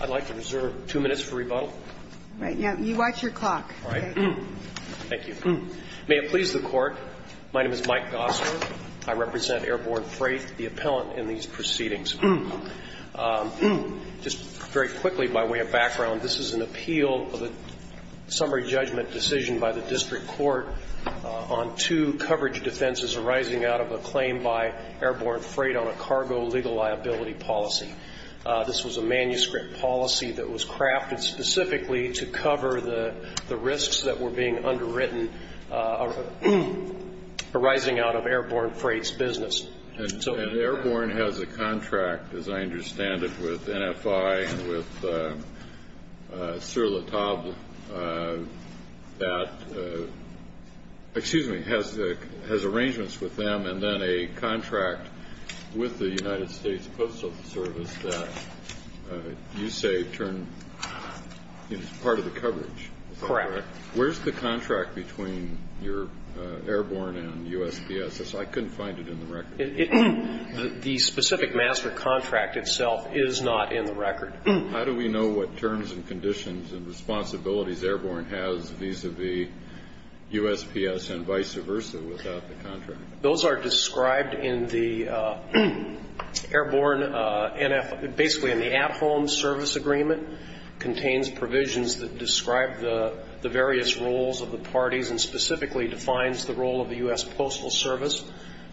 I'd like to reserve two minutes for rebuttal. Right. You watch your clock. All right. Thank you. May it please the Court, my name is Mike Gosler. I represent Airborne Freight, the appellant in these proceedings. Just very quickly, by way of background, this is an appeal of a summary judgment decision by the district court on two coverage defenses arising out of a claim by Airborne Freight on a cargo legal liability policy. This was a manuscript policy that was crafted specifically to cover the risks that were being underwritten arising out of Airborne Freight's business. And Airborne has a contract, as I understand it, with NFI and with Sur La Table that has arrangements with them and then a contract with the United States Postal Service that you say is part of the coverage. Correct. Where's the contract between Airborne and USPS? I couldn't find it in the record. The specific master contract itself is not in the record. How do we know what terms and conditions and responsibilities Airborne has vis-à-vis USPS and vice versa without the contract? Those are described in the Airborne NFI, basically in the at-home service agreement. It contains provisions that describe the various roles of the parties and specifically defines the role of the U.S. Postal Service.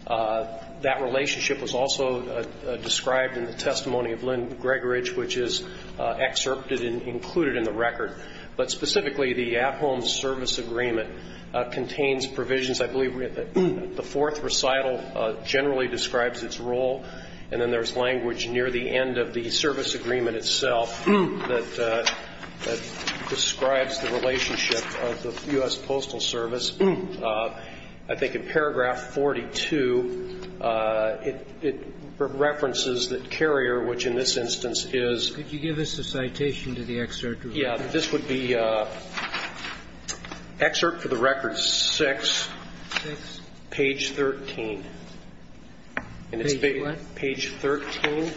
That relationship was also described in the testimony of Lynn Gregorich, which is excerpted and included in the record. But specifically, the at-home service agreement contains provisions. I believe the fourth recital generally describes its role, and then there's language near the end of the service agreement itself that describes the relationship of the U.S. Postal Service. I think in paragraph 42, it references that Carrier, which in this instance is ---- Could you give us a citation to the excerpt? Yes. This would be excerpt for the record 6, page 13. Page what? Page 13.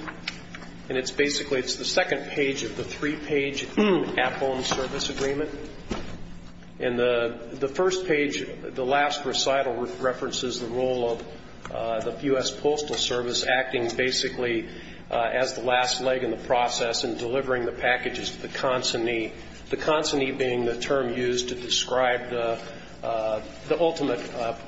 And it's basically, it's the second page of the three-page at-home service agreement. And the first page, the last recital references the role of the U.S. Postal Service acting basically as the last leg in the process in delivering the packages to the consignee, the consignee being the term used to describe the ultimate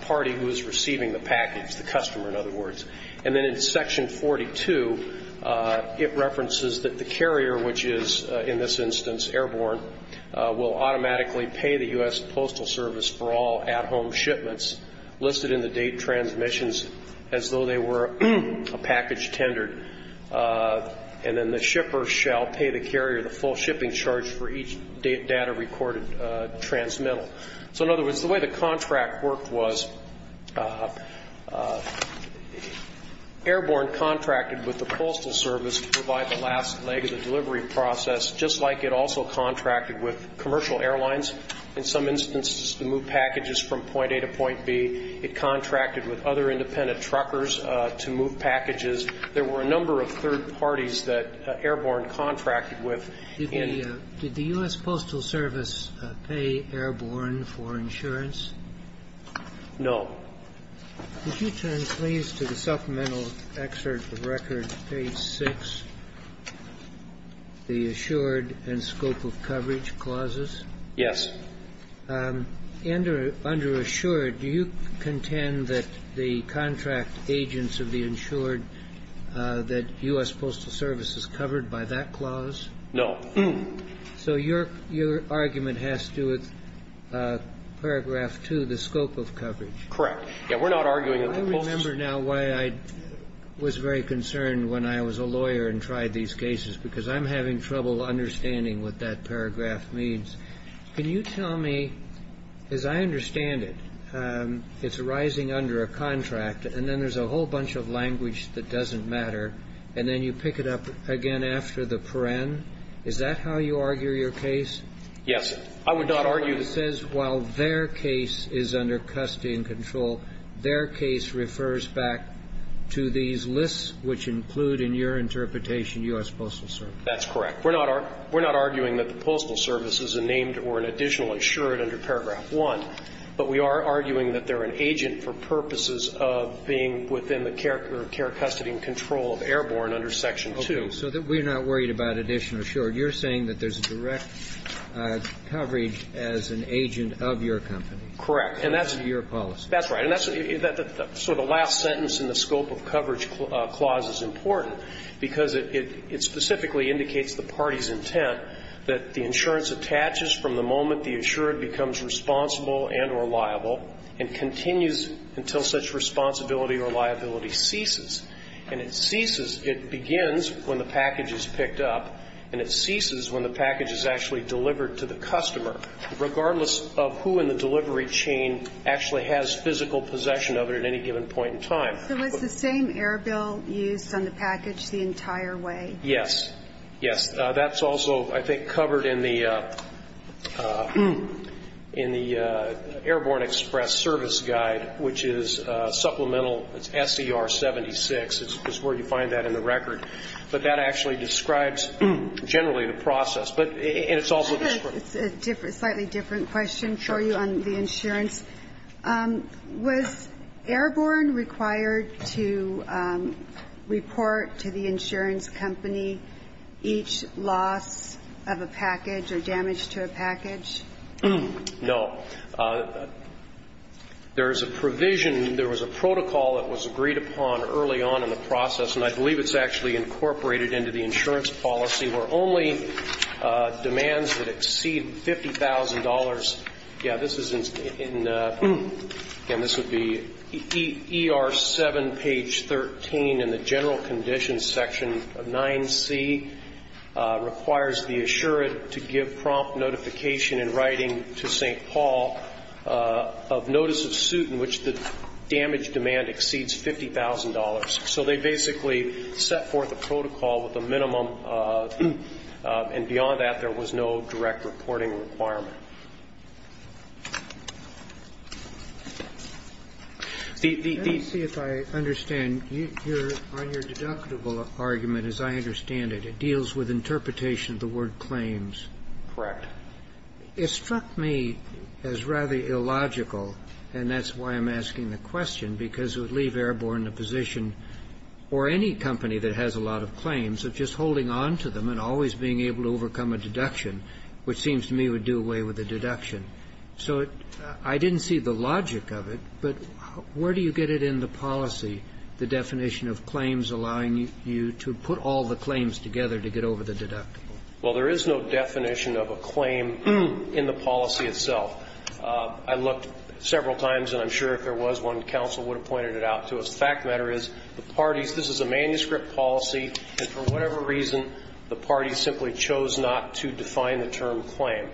party who is receiving the package, the customer, in other words. And then in section 42, it references that the carrier, which is in this instance airborne, will automatically pay the U.S. Postal Service for all at-home shipments listed in the date transmissions as though they were a package tendered. And then the shipper shall pay the carrier the full shipping charge for each data-recorded transmittal. So in other words, the way the contract worked was airborne contracted with the Postal Service to provide the last leg of the delivery process, just like it also contracted with commercial airlines, in some instances to move packages from point A to point B. It contracted with other independent truckers to move packages. There were a number of third parties that airborne contracted with. Did the U.S. Postal Service pay airborne for insurance? No. Could you translate to the supplemental excerpt of record page 6, the assured and scope of coverage clauses? Yes. Under assured, do you contend that the contract agents of the insured, that U.S. Postal Service is covered by that clause? No. So your argument has to do with paragraph 2, the scope of coverage. Correct. Yes. We're not arguing that the Postal Service. I remember now why I was very concerned when I was a lawyer and tried these cases, because I'm having trouble understanding what that paragraph means. Can you tell me, as I understand it, it's arising under a contract, and then there's a whole Is that how you argue your case? Yes. I would not argue. It says while their case is under custody and control, their case refers back to these lists which include, in your interpretation, U.S. Postal Service. That's correct. We're not arguing that the Postal Service is a named or an additional insured under paragraph 1, but we are arguing that they're an agent for purposes of being within the care or care custody and control of airborne under section 2. So we're not worried about addition or short. You're saying that there's a direct coverage as an agent of your company. Correct. And that's your policy. That's right. And that's sort of the last sentence in the scope of coverage clause is important, because it specifically indicates the party's intent that the insurance attaches from the moment the insured becomes responsible and or liable and continues until such responsibility or liability ceases. And it ceases, it begins when the package is picked up, and it ceases when the package is actually delivered to the customer, regardless of who in the delivery chain actually has physical possession of it at any given point in time. So it's the same Airbill use on the package the entire way? Yes. Yes. That's also, I think, covered in the Airborne Express Service Guide, which is supplemental SCR 76 is where you find that in the record. But that actually describes generally the process. And it's also described. I have a slightly different question for you on the insurance. Was Airborne required to report to the insurance company each loss of a package or damage to a package? No. There is a provision, there was a protocol that was agreed upon early on in the process, and I believe it's actually incorporated into the insurance policy, where only demands that exceed $50,000. Yeah, this is in, again, this would be ER 7, page 13 in the general conditions section of 9C, requires the insured to give prompt notification in writing to St. Paul of notice of suit in which the damage demand exceeds $50,000. So they basically set forth a protocol with a minimum, and beyond that, there was no direct reporting requirement. The, the, the. Let me see if I understand. On your deductible argument, as I understand it, it deals with interpretation of the word claims. Correct. It struck me as rather illogical, and that's why I'm asking the question, because it would leave Airborne in a position, or any company that has a lot of claims, of just holding on to them and always being able to overcome a deduction, which seems to me would do away with the deduction. So I didn't see the logic of it, but where do you get it in the policy, the definition of claims allowing you to put all the claims together to get over the deductible? Well, there is no definition of a claim in the policy itself. I looked several times, and I'm sure if there was, one counsel would have pointed it out to us. The fact of the matter is, the parties, this is a manuscript policy, and for whatever reason, the parties simply chose not to define the term claim.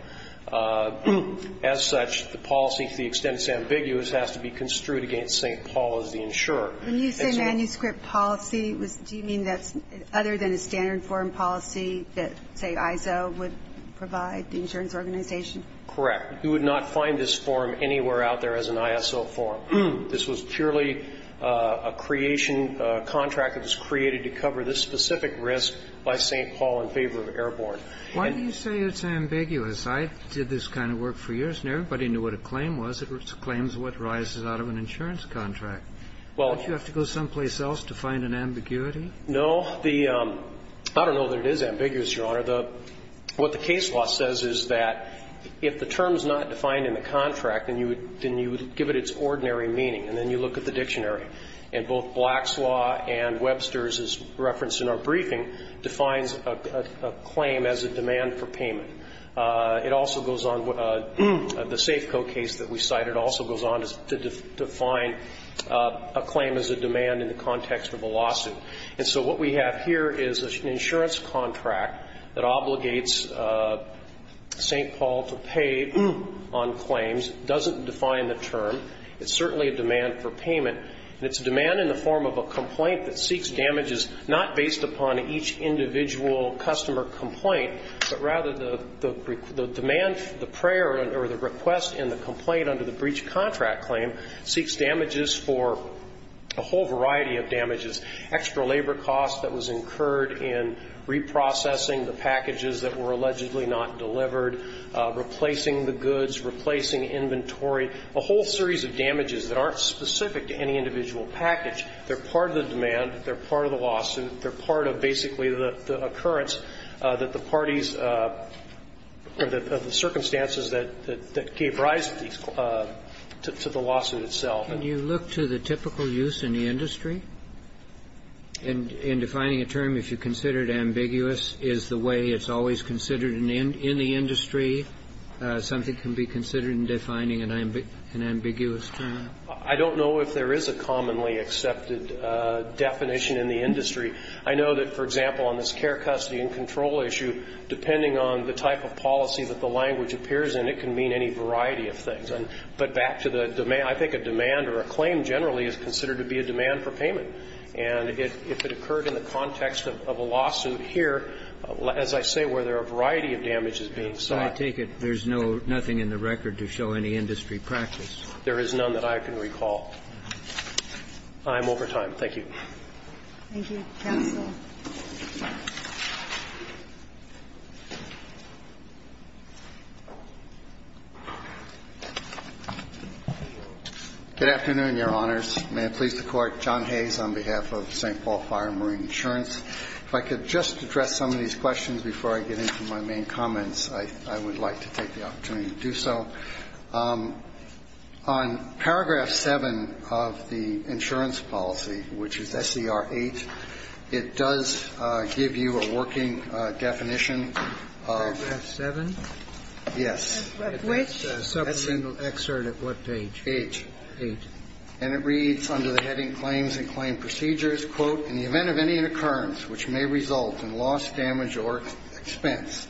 As such, the policy, to the extent it's ambiguous, has to be construed against St. Paul as the insurer. When you say manuscript policy, do you mean that's other than a standard foreign policy that, say, ISO would provide, the insurance organization? Correct. You would not find this form anywhere out there as an ISO form. This was purely a creation, a contract that was created to cover this specific risk by St. Paul in favor of Airborne. Why do you say it's ambiguous? I did this kind of work for years, and everybody knew what a claim was. It was claims what rises out of an insurance contract. Don't you have to go someplace else to find an ambiguity? No. I don't know that it is ambiguous, Your Honor. What the case law says is that if the term's not defined in the contract, then you would give it its ordinary meaning, and then you look at the dictionary. And both Black's law and Webster's is referenced in our briefing, defines a claim as a demand for payment. It also goes on, the Safeco case that we cited also goes on to define a claim as a demand in the context of a lawsuit. And so what we have here is an insurance contract that obligates St. Paul to pay on claims. It doesn't define the term. It's certainly a demand for payment. And it's a demand in the form of a complaint that seeks damages not based upon each individual customer complaint, but rather the demand, the prayer or the request in the complaint under the breach contract claim seeks damages for a whole variety of damages. Extra labor costs that was incurred in reprocessing the packages that were allegedly not delivered, replacing the goods, replacing inventory, a whole series of damages that aren't specific to any individual package. They're part of the demand. They're part of the lawsuit. They're part of basically the occurrence that the parties or the circumstances that gave rise to the lawsuit itself. Can you look to the typical use in the industry in defining a term, if you consider it ambiguous, is the way it's always considered in the industry? Something can be considered in defining an ambiguous term. I don't know if there is a commonly accepted definition in the industry. I know that, for example, on this care, custody and control issue, depending on the type of policy that the language appears in, it can mean any variety of things. But back to the demand, I think a demand or a claim generally is considered to be a demand for payment. And if it occurred in the context of a lawsuit here, as I say, where there are a variety of damages being sought. So I take it there's no, nothing in the record to show any industry practice. There is none that I can recall. I'm over time. Thank you. Thank you. Counsel. Good afternoon, Your Honors. May it please the Court. John Hayes on behalf of St. Paul Fire and Marine Insurance. If I could just address some of these questions before I get into my main comments, I would like to take the opportunity to do so. On paragraph 7 of the insurance policy, which is SCR 8, it does give you a working definition of the. Paragraph 7? Yes. Of which supplemental excerpt at what page? Page. Page. And it reads under the heading claims and claim procedures, quote, in the event of any occurrence which may result in loss, damage, or expense,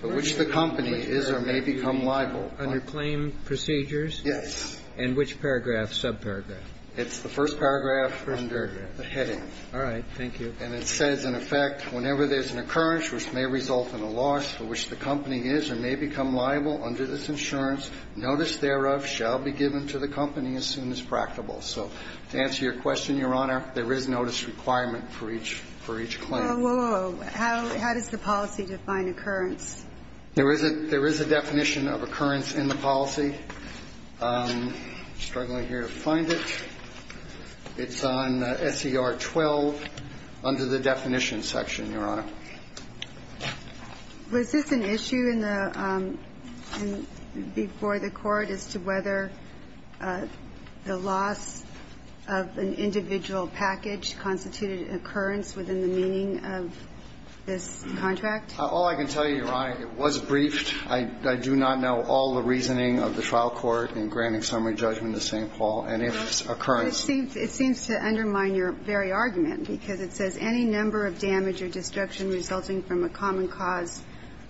for which the company is or may become liable. Under claim procedures? Yes. And which paragraph, subparagraph? It's the first paragraph under the heading. All right. Thank you. And it says, in effect, whenever there's an occurrence which may result in a loss for which the company is or may become liable under this insurance, notice thereof shall be given to the company as soon as practicable. So to answer your question, Your Honor, there is notice requirement for each claim. Whoa, whoa, whoa. How does the policy define occurrence? There is a definition of occurrence in the policy. I'm struggling here to find it. It's on SCR 12 under the definition section, Your Honor. Was this an issue in the – before the Court as to whether the loss of an individual package constituted an occurrence within the meaning of this contract? All I can tell you, Your Honor, it was briefed. I do not know all the reasoning of the trial court in granting summary judgment And if occurrence – It seems to undermine your very argument because it says any number of damage or destruction resulting from a common cause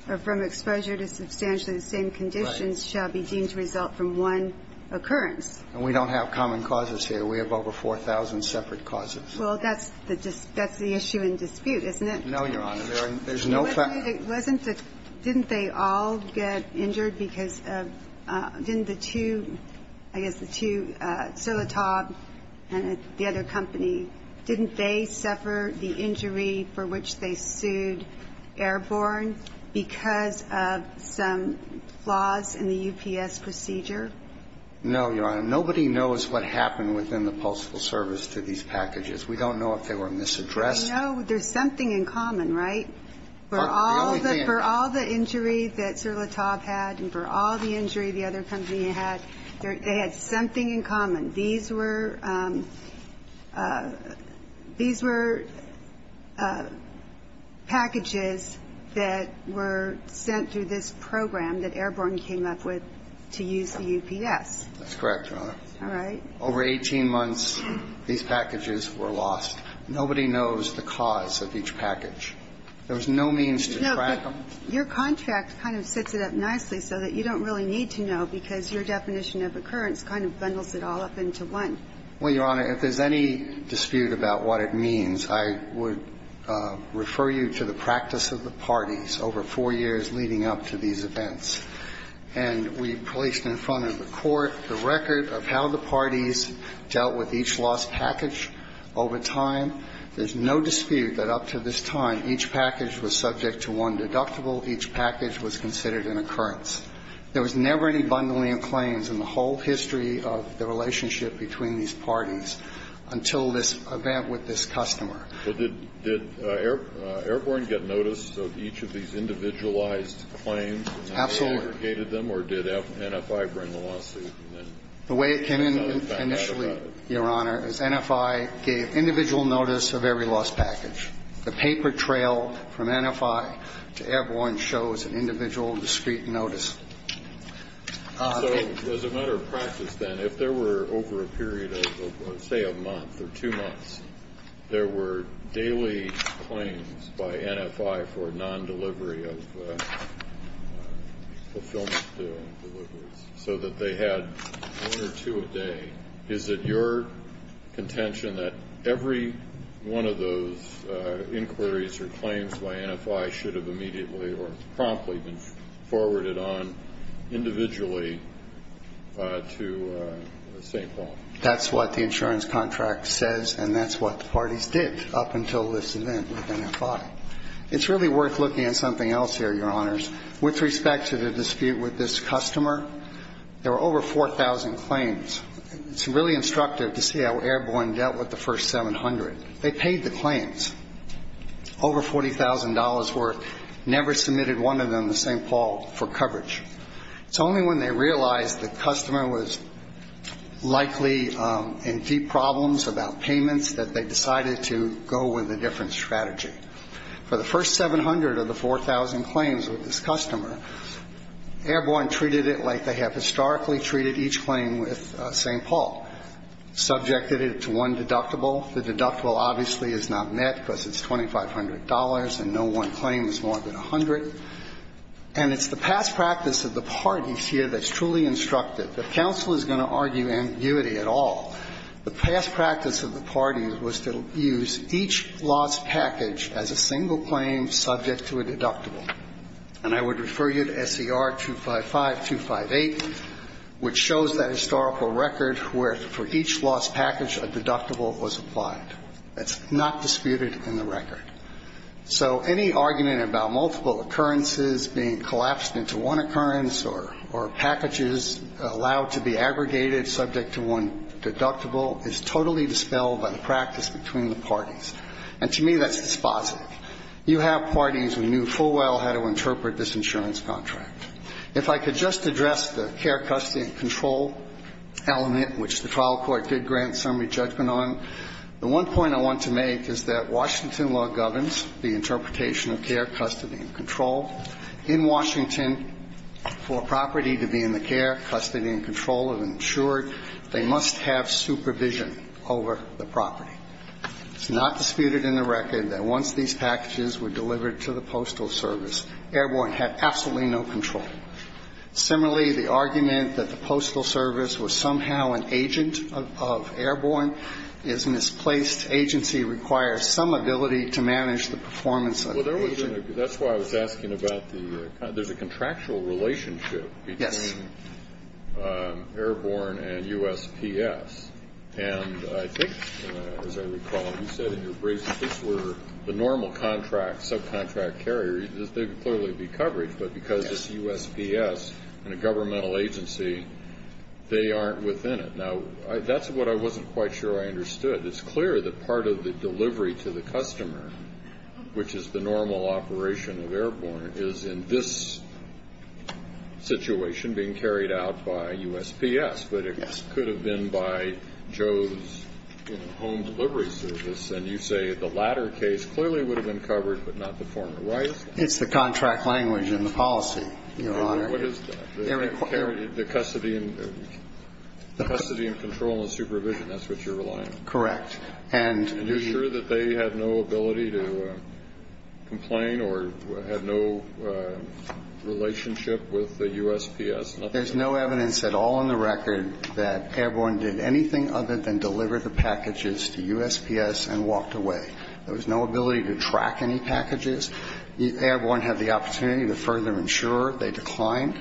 or from exposure to substantially the same conditions shall be deemed to result from one occurrence. And we don't have common causes here. We have over 4,000 separate causes. Well, that's the issue in dispute, isn't it? No, Your Honor. There's no fact – It wasn't the – didn't they all get injured because of – didn't the two – I guess the two – Solitab and the other company, didn't they suffer the injury for which they sued Airborne because of some flaws in the UPS procedure? No, Your Honor. Nobody knows what happened within the postal service to these packages. We don't know if they were misaddressed. I know there's something in common, right? For all the injury that Solitab had and for all the injury the other company had, they had something in common. These were packages that were sent through this program that Airborne came up with to use the UPS. That's correct, Your Honor. All right. Over 18 months, these packages were lost. Nobody knows the cause of each package. There was no means to track them. No, but your contract kind of sets it up nicely so that you don't really need to know because your definition of occurrence kind of bundles it all up into one. Well, Your Honor, if there's any dispute about what it means, I would refer you to the practice of the parties over four years leading up to these events. And we placed in front of the Court the record of how the parties dealt with each lost package over time. There's no dispute that up to this time, each package was subject to one deductible. Each package was considered an occurrence. There was never any bundling of claims in the whole history of the relationship between these parties until this event with this customer. So did Airborne get notice of each of these individualized claims? Absolutely. And they aggregated them? Or did NFI bring the lawsuit and then found out about it? The way it came in initially, Your Honor, is NFI gave individual notice of every lost package. The paper trail from NFI to Airborne shows an individual discrete notice. So as a matter of practice, then, if there were over a period of, say, a month or two months, there were daily claims by NFI for non-delivery of fulfillment so that they had one or two a day, is it your contention that every one of those inquiries or claims by NFI should have immediately or promptly been forwarded on individually to St. Paul? That's what the insurance contract says, and that's what the parties did up until this event with NFI. It's really worth looking at something else here, Your Honors. With respect to the dispute with this customer, there were over 4,000 claims. It's really instructive to see how Airborne dealt with the first 700. They paid the claims. Over $40,000 worth never submitted one of them to St. Paul for coverage. It's only when they realized the customer was likely in deep problems about payments that they decided to go with a different strategy. For the first 700 of the 4,000 claims with this customer, Airborne treated it like they have historically treated each claim with St. Paul, subjected it to one deductible. The deductible obviously is not met because it's $2,500 and no one claim is more than 100. And it's the past practice of the parties here that's truly instructive. The counsel is going to argue ambiguity at all. The past practice of the parties was to use each lost package as a single claim subject to a deductible. And I would refer you to S.E.R. 255-258, which shows that historical record where, for each lost package, a deductible was applied. That's not disputed in the record. So any argument about multiple occurrences being collapsed into one occurrence or packages allowed to be aggregated subject to one deductible is totally dispelled by the practice between the parties. And to me, that's dispositive. You have parties who knew full well how to interpret this insurance contract. If I could just address the care, custody and control element, which the trial court did grant summary judgment on, the one point I want to make is that Washington law governs the interpretation of care, custody and control. In Washington, for a property to be in the care, custody and control of an insured, they must have supervision over the property. It's not disputed in the record that once these packages were delivered to the Postal Service, Airborne had absolutely no control. Similarly, the argument that the Postal Service was somehow an agent of Airborne is misplaced. Agency requires some ability to manage the performance of the agent. That's why I was asking about the – there's a contractual relationship between Airborne and USPS. And I think, as I recall, you said in your brief that these were the normal contracts, subcontract carriers. There could clearly be coverage, but because it's USPS and a governmental agency, they aren't within it. Now, that's what I wasn't quite sure I understood. But it's clear that part of the delivery to the customer, which is the normal operation of Airborne, is in this situation being carried out by USPS. But it could have been by Joe's home delivery service. And you say the latter case clearly would have been covered, but not the former. Why is that? It's the contract language in the policy, Your Honor. What is that? The custody and control and supervision, that's what you're relying on. Correct. And you're sure that they had no ability to complain or had no relationship with the USPS? There's no evidence at all on the record that Airborne did anything other than deliver the packages to USPS and walked away. There was no ability to track any packages. Airborne had the opportunity to further insure. They declined.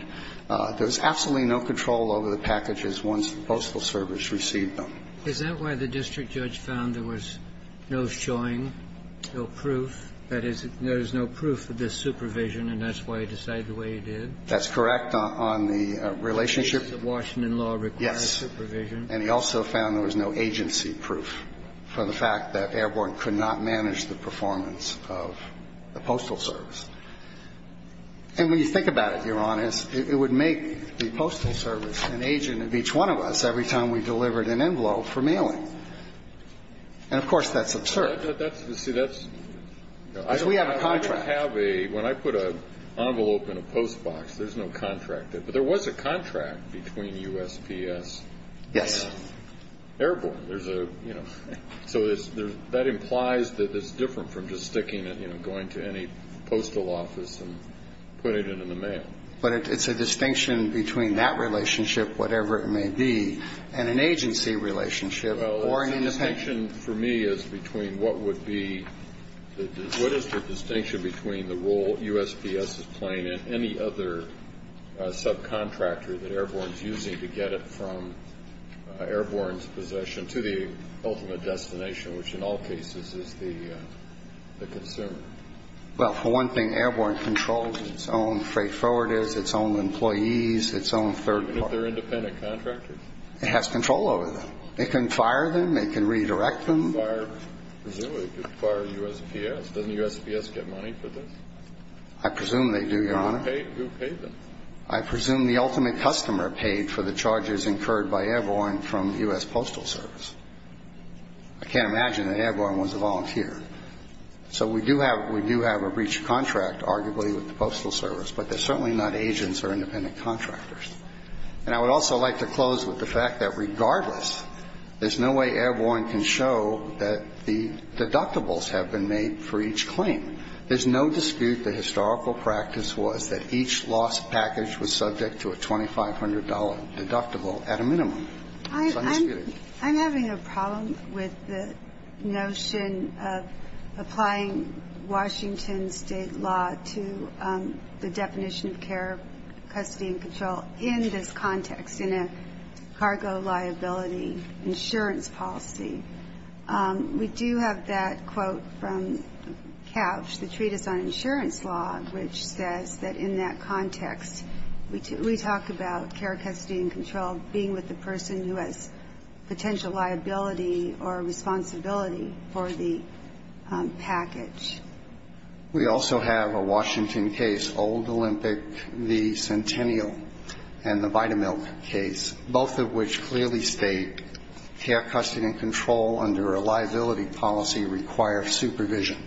There was absolutely no control over the packages once the Postal Service received them. Is that why the district judge found there was no showing, no proof? That is, there is no proof of this supervision, and that's why he decided the way he did? That's correct. On the relationship. Washington law requires supervision. Yes. And he also found there was no agency proof for the fact that Airborne could not manage the performance of the Postal Service. And when you think about it, Your Honor, it would make the Postal Service an agent of each one of us. Every time we delivered an envelope for mailing. And, of course, that's absurd. See, that's. We have a contract. When I put an envelope in a post box, there's no contract. But there was a contract between USPS. Yes. Airborne, there's a, you know. So that implies that it's different from just sticking it, you know, going to any postal office and putting it in the mail. But it's a distinction between that relationship, whatever it may be, and an agency relationship. Well, the distinction for me is between what would be, what is the distinction between the role USPS is playing and any other subcontractor that Airborne's using to get it from Airborne's possession to the ultimate destination, which in all cases is the consumer. Well, for one thing, Airborne controls its own freight forwarders, its own employees, its own third party. Even if they're independent contractors? It has control over them. It can fire them. It can redirect them. Presumably it could fire USPS. Doesn't USPS get money for this? I presume they do, Your Honor. Who paid them? I presume the ultimate customer paid for the charges incurred by Airborne from the U.S. Postal Service. I can't imagine that Airborne was a volunteer. So we do have a breach of contract, arguably, with the Postal Service. But they're certainly not agents or independent contractors. And I would also like to close with the fact that regardless, there's no way Airborne can show that the deductibles have been made for each claim. There's no dispute the historical practice was that each loss package was subject to a $2,500 deductible at a minimum. It's undisputed. I'm having a problem with the notion of applying Washington State law to the definition of care, custody and control in this context, in a cargo liability insurance policy. We do have that quote from Couch, the Treatise on Insurance Law, which says that in that liability or responsibility for the package. We also have a Washington case, Old Olympic v. Centennial, and the Vitamilk case, both of which clearly state care, custody and control under a liability policy require supervision.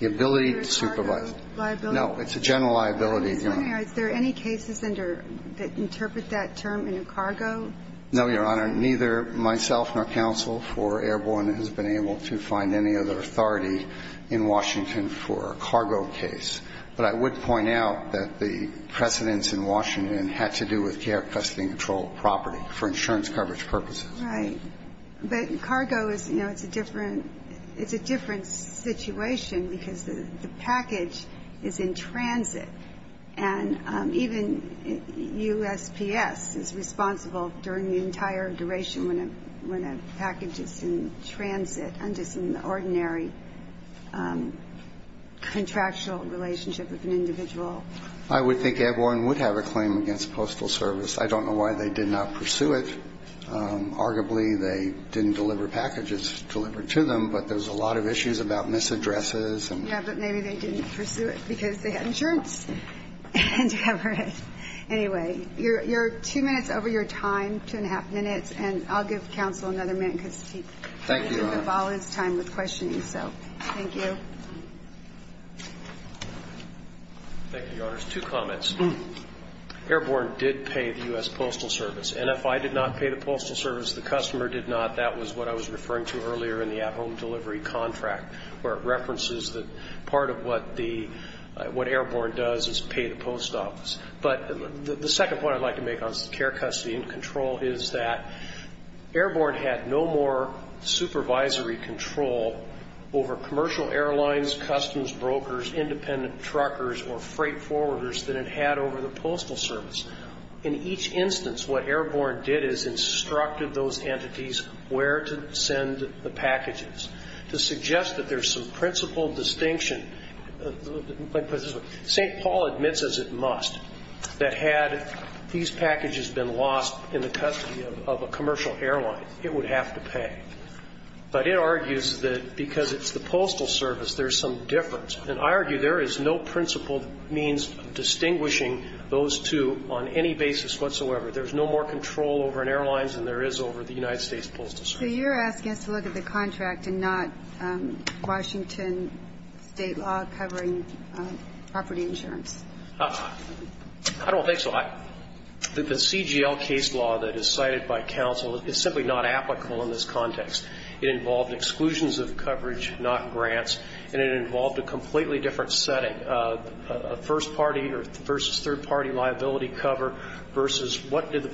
The ability to supervise. Is there a cargo liability? No. It's a general liability. Is there any cases that interpret that term in a cargo? No, Your Honor. Neither myself nor counsel for Airborne has been able to find any other authority in Washington for a cargo case. But I would point out that the precedents in Washington had to do with care, custody and control of property for insurance coverage purposes. Right. But cargo is, you know, it's a different situation because the package is in transit. And even USPS is responsible during the entire duration when a package is in transit under some ordinary contractual relationship with an individual. I would think Airborne would have a claim against Postal Service. I don't know why they did not pursue it. Arguably, they didn't deliver packages delivered to them, but there's a lot of issues about misaddresses. Yeah, but maybe they didn't pursue it because they had insurance to cover it. Anyway, you're two minutes over your time, two and a half minutes. And I'll give counsel another minute because he devolves time with questioning. So thank you. Thank you, Your Honors. Two comments. Airborne did pay the U.S. Postal Service. NFI did not pay the Postal Service. The customer did not. That was what I was referring to earlier in the at-home delivery contract where it references that part of what Airborne does is pay the post office. But the second point I'd like to make on care, custody, and control is that Airborne had no more supervisory control over commercial airlines, customs brokers, independent truckers, or freight forwarders than it had over the Postal Service. In each instance, what Airborne did is instructed those entities where to send the principal distinction. St. Paul admits as it must that had these packages been lost in the custody of a commercial airline, it would have to pay. But it argues that because it's the Postal Service, there's some difference. And I argue there is no principal means of distinguishing those two on any basis whatsoever. There's no more control over an airline than there is over the United States Postal Service. So you're asking us to look at the contract and not Washington state law covering property insurance. I don't think so. The CGL case law that is cited by counsel is simply not applicable in this context. It involved exclusions of coverage, not grants, and it involved a completely different setting, a first party versus third party liability cover versus what do the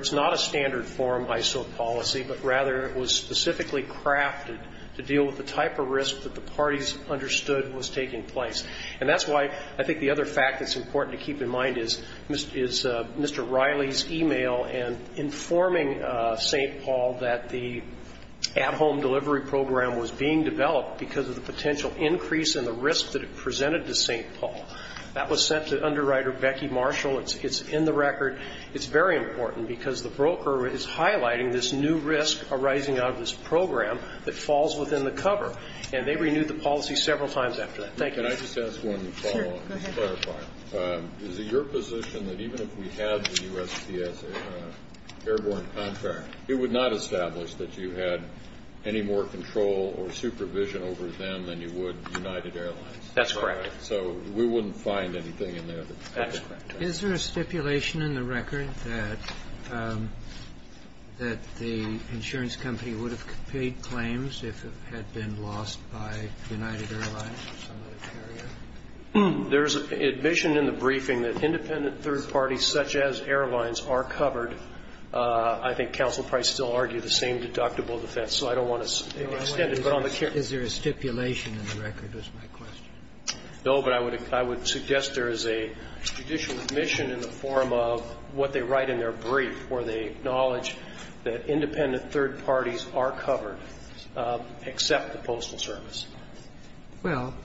It's not a standard form ISO policy, but rather it was specifically crafted to deal with the type of risk that the parties understood was taking place. And that's why I think the other fact that's important to keep in mind is Mr. Riley's e-mail informing St. Paul that the at-home delivery program was being developed because of the potential increase in the risk that it presented to St. Paul. That was sent to underwriter Becky Marshall. It's in the record. It's very important because the broker is highlighting this new risk arising out of this program that falls within the cover. And they renewed the policy several times after that. Thank you. Can I just ask one follow-up? Sure. Go ahead. Is it your position that even if we had the USPS airborne contract, it would not establish that you had any more control or supervision over them than you would United Airlines? That's correct. So we wouldn't find anything in there. That's correct. Is there a stipulation in the record that the insurance company would have paid claims if it had been lost by United Airlines or some other carrier? There is admission in the briefing that independent third parties such as airlines are covered. I think Counsel Price still argued the same deductible defense, so I don't want to extend it. Is there a stipulation in the record is my question. No, but I would suggest there is a judicial admission in the form of what they write in their brief where they acknowledge that independent third parties are covered except the Postal Service.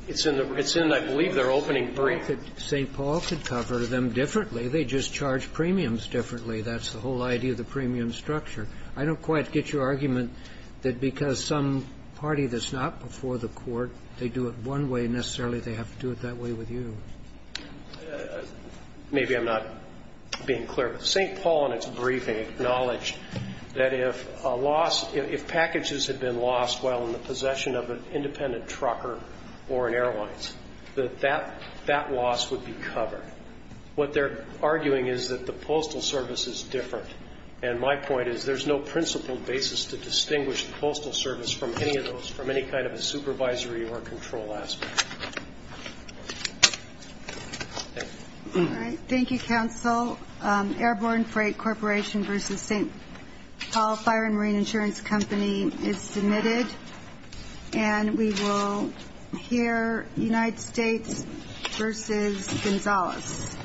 It's in, I believe, their opening brief. Well, St. Paul could cover them differently. They just charge premiums differently. That's the whole idea of the premium structure. I don't quite get your argument that because some party that's not before the Court, they do it one way, necessarily they have to do it that way with you. Maybe I'm not being clear, but St. Paul in its briefing acknowledged that if a loss – if packages had been lost while in the possession of an independent trucker or an airline, that that loss would be covered. What they're arguing is that the Postal Service is different. And my point is there's no principled basis to distinguish the Postal Service from any of those, from any kind of a supervisory or control aspect. Thank you. All right. Thank you, counsel. Airborne Freight Corporation v. St. Paul Fire and Marine Insurance Company is submitted. And we will hear United States v. Gonzalez. Thank you, counsel.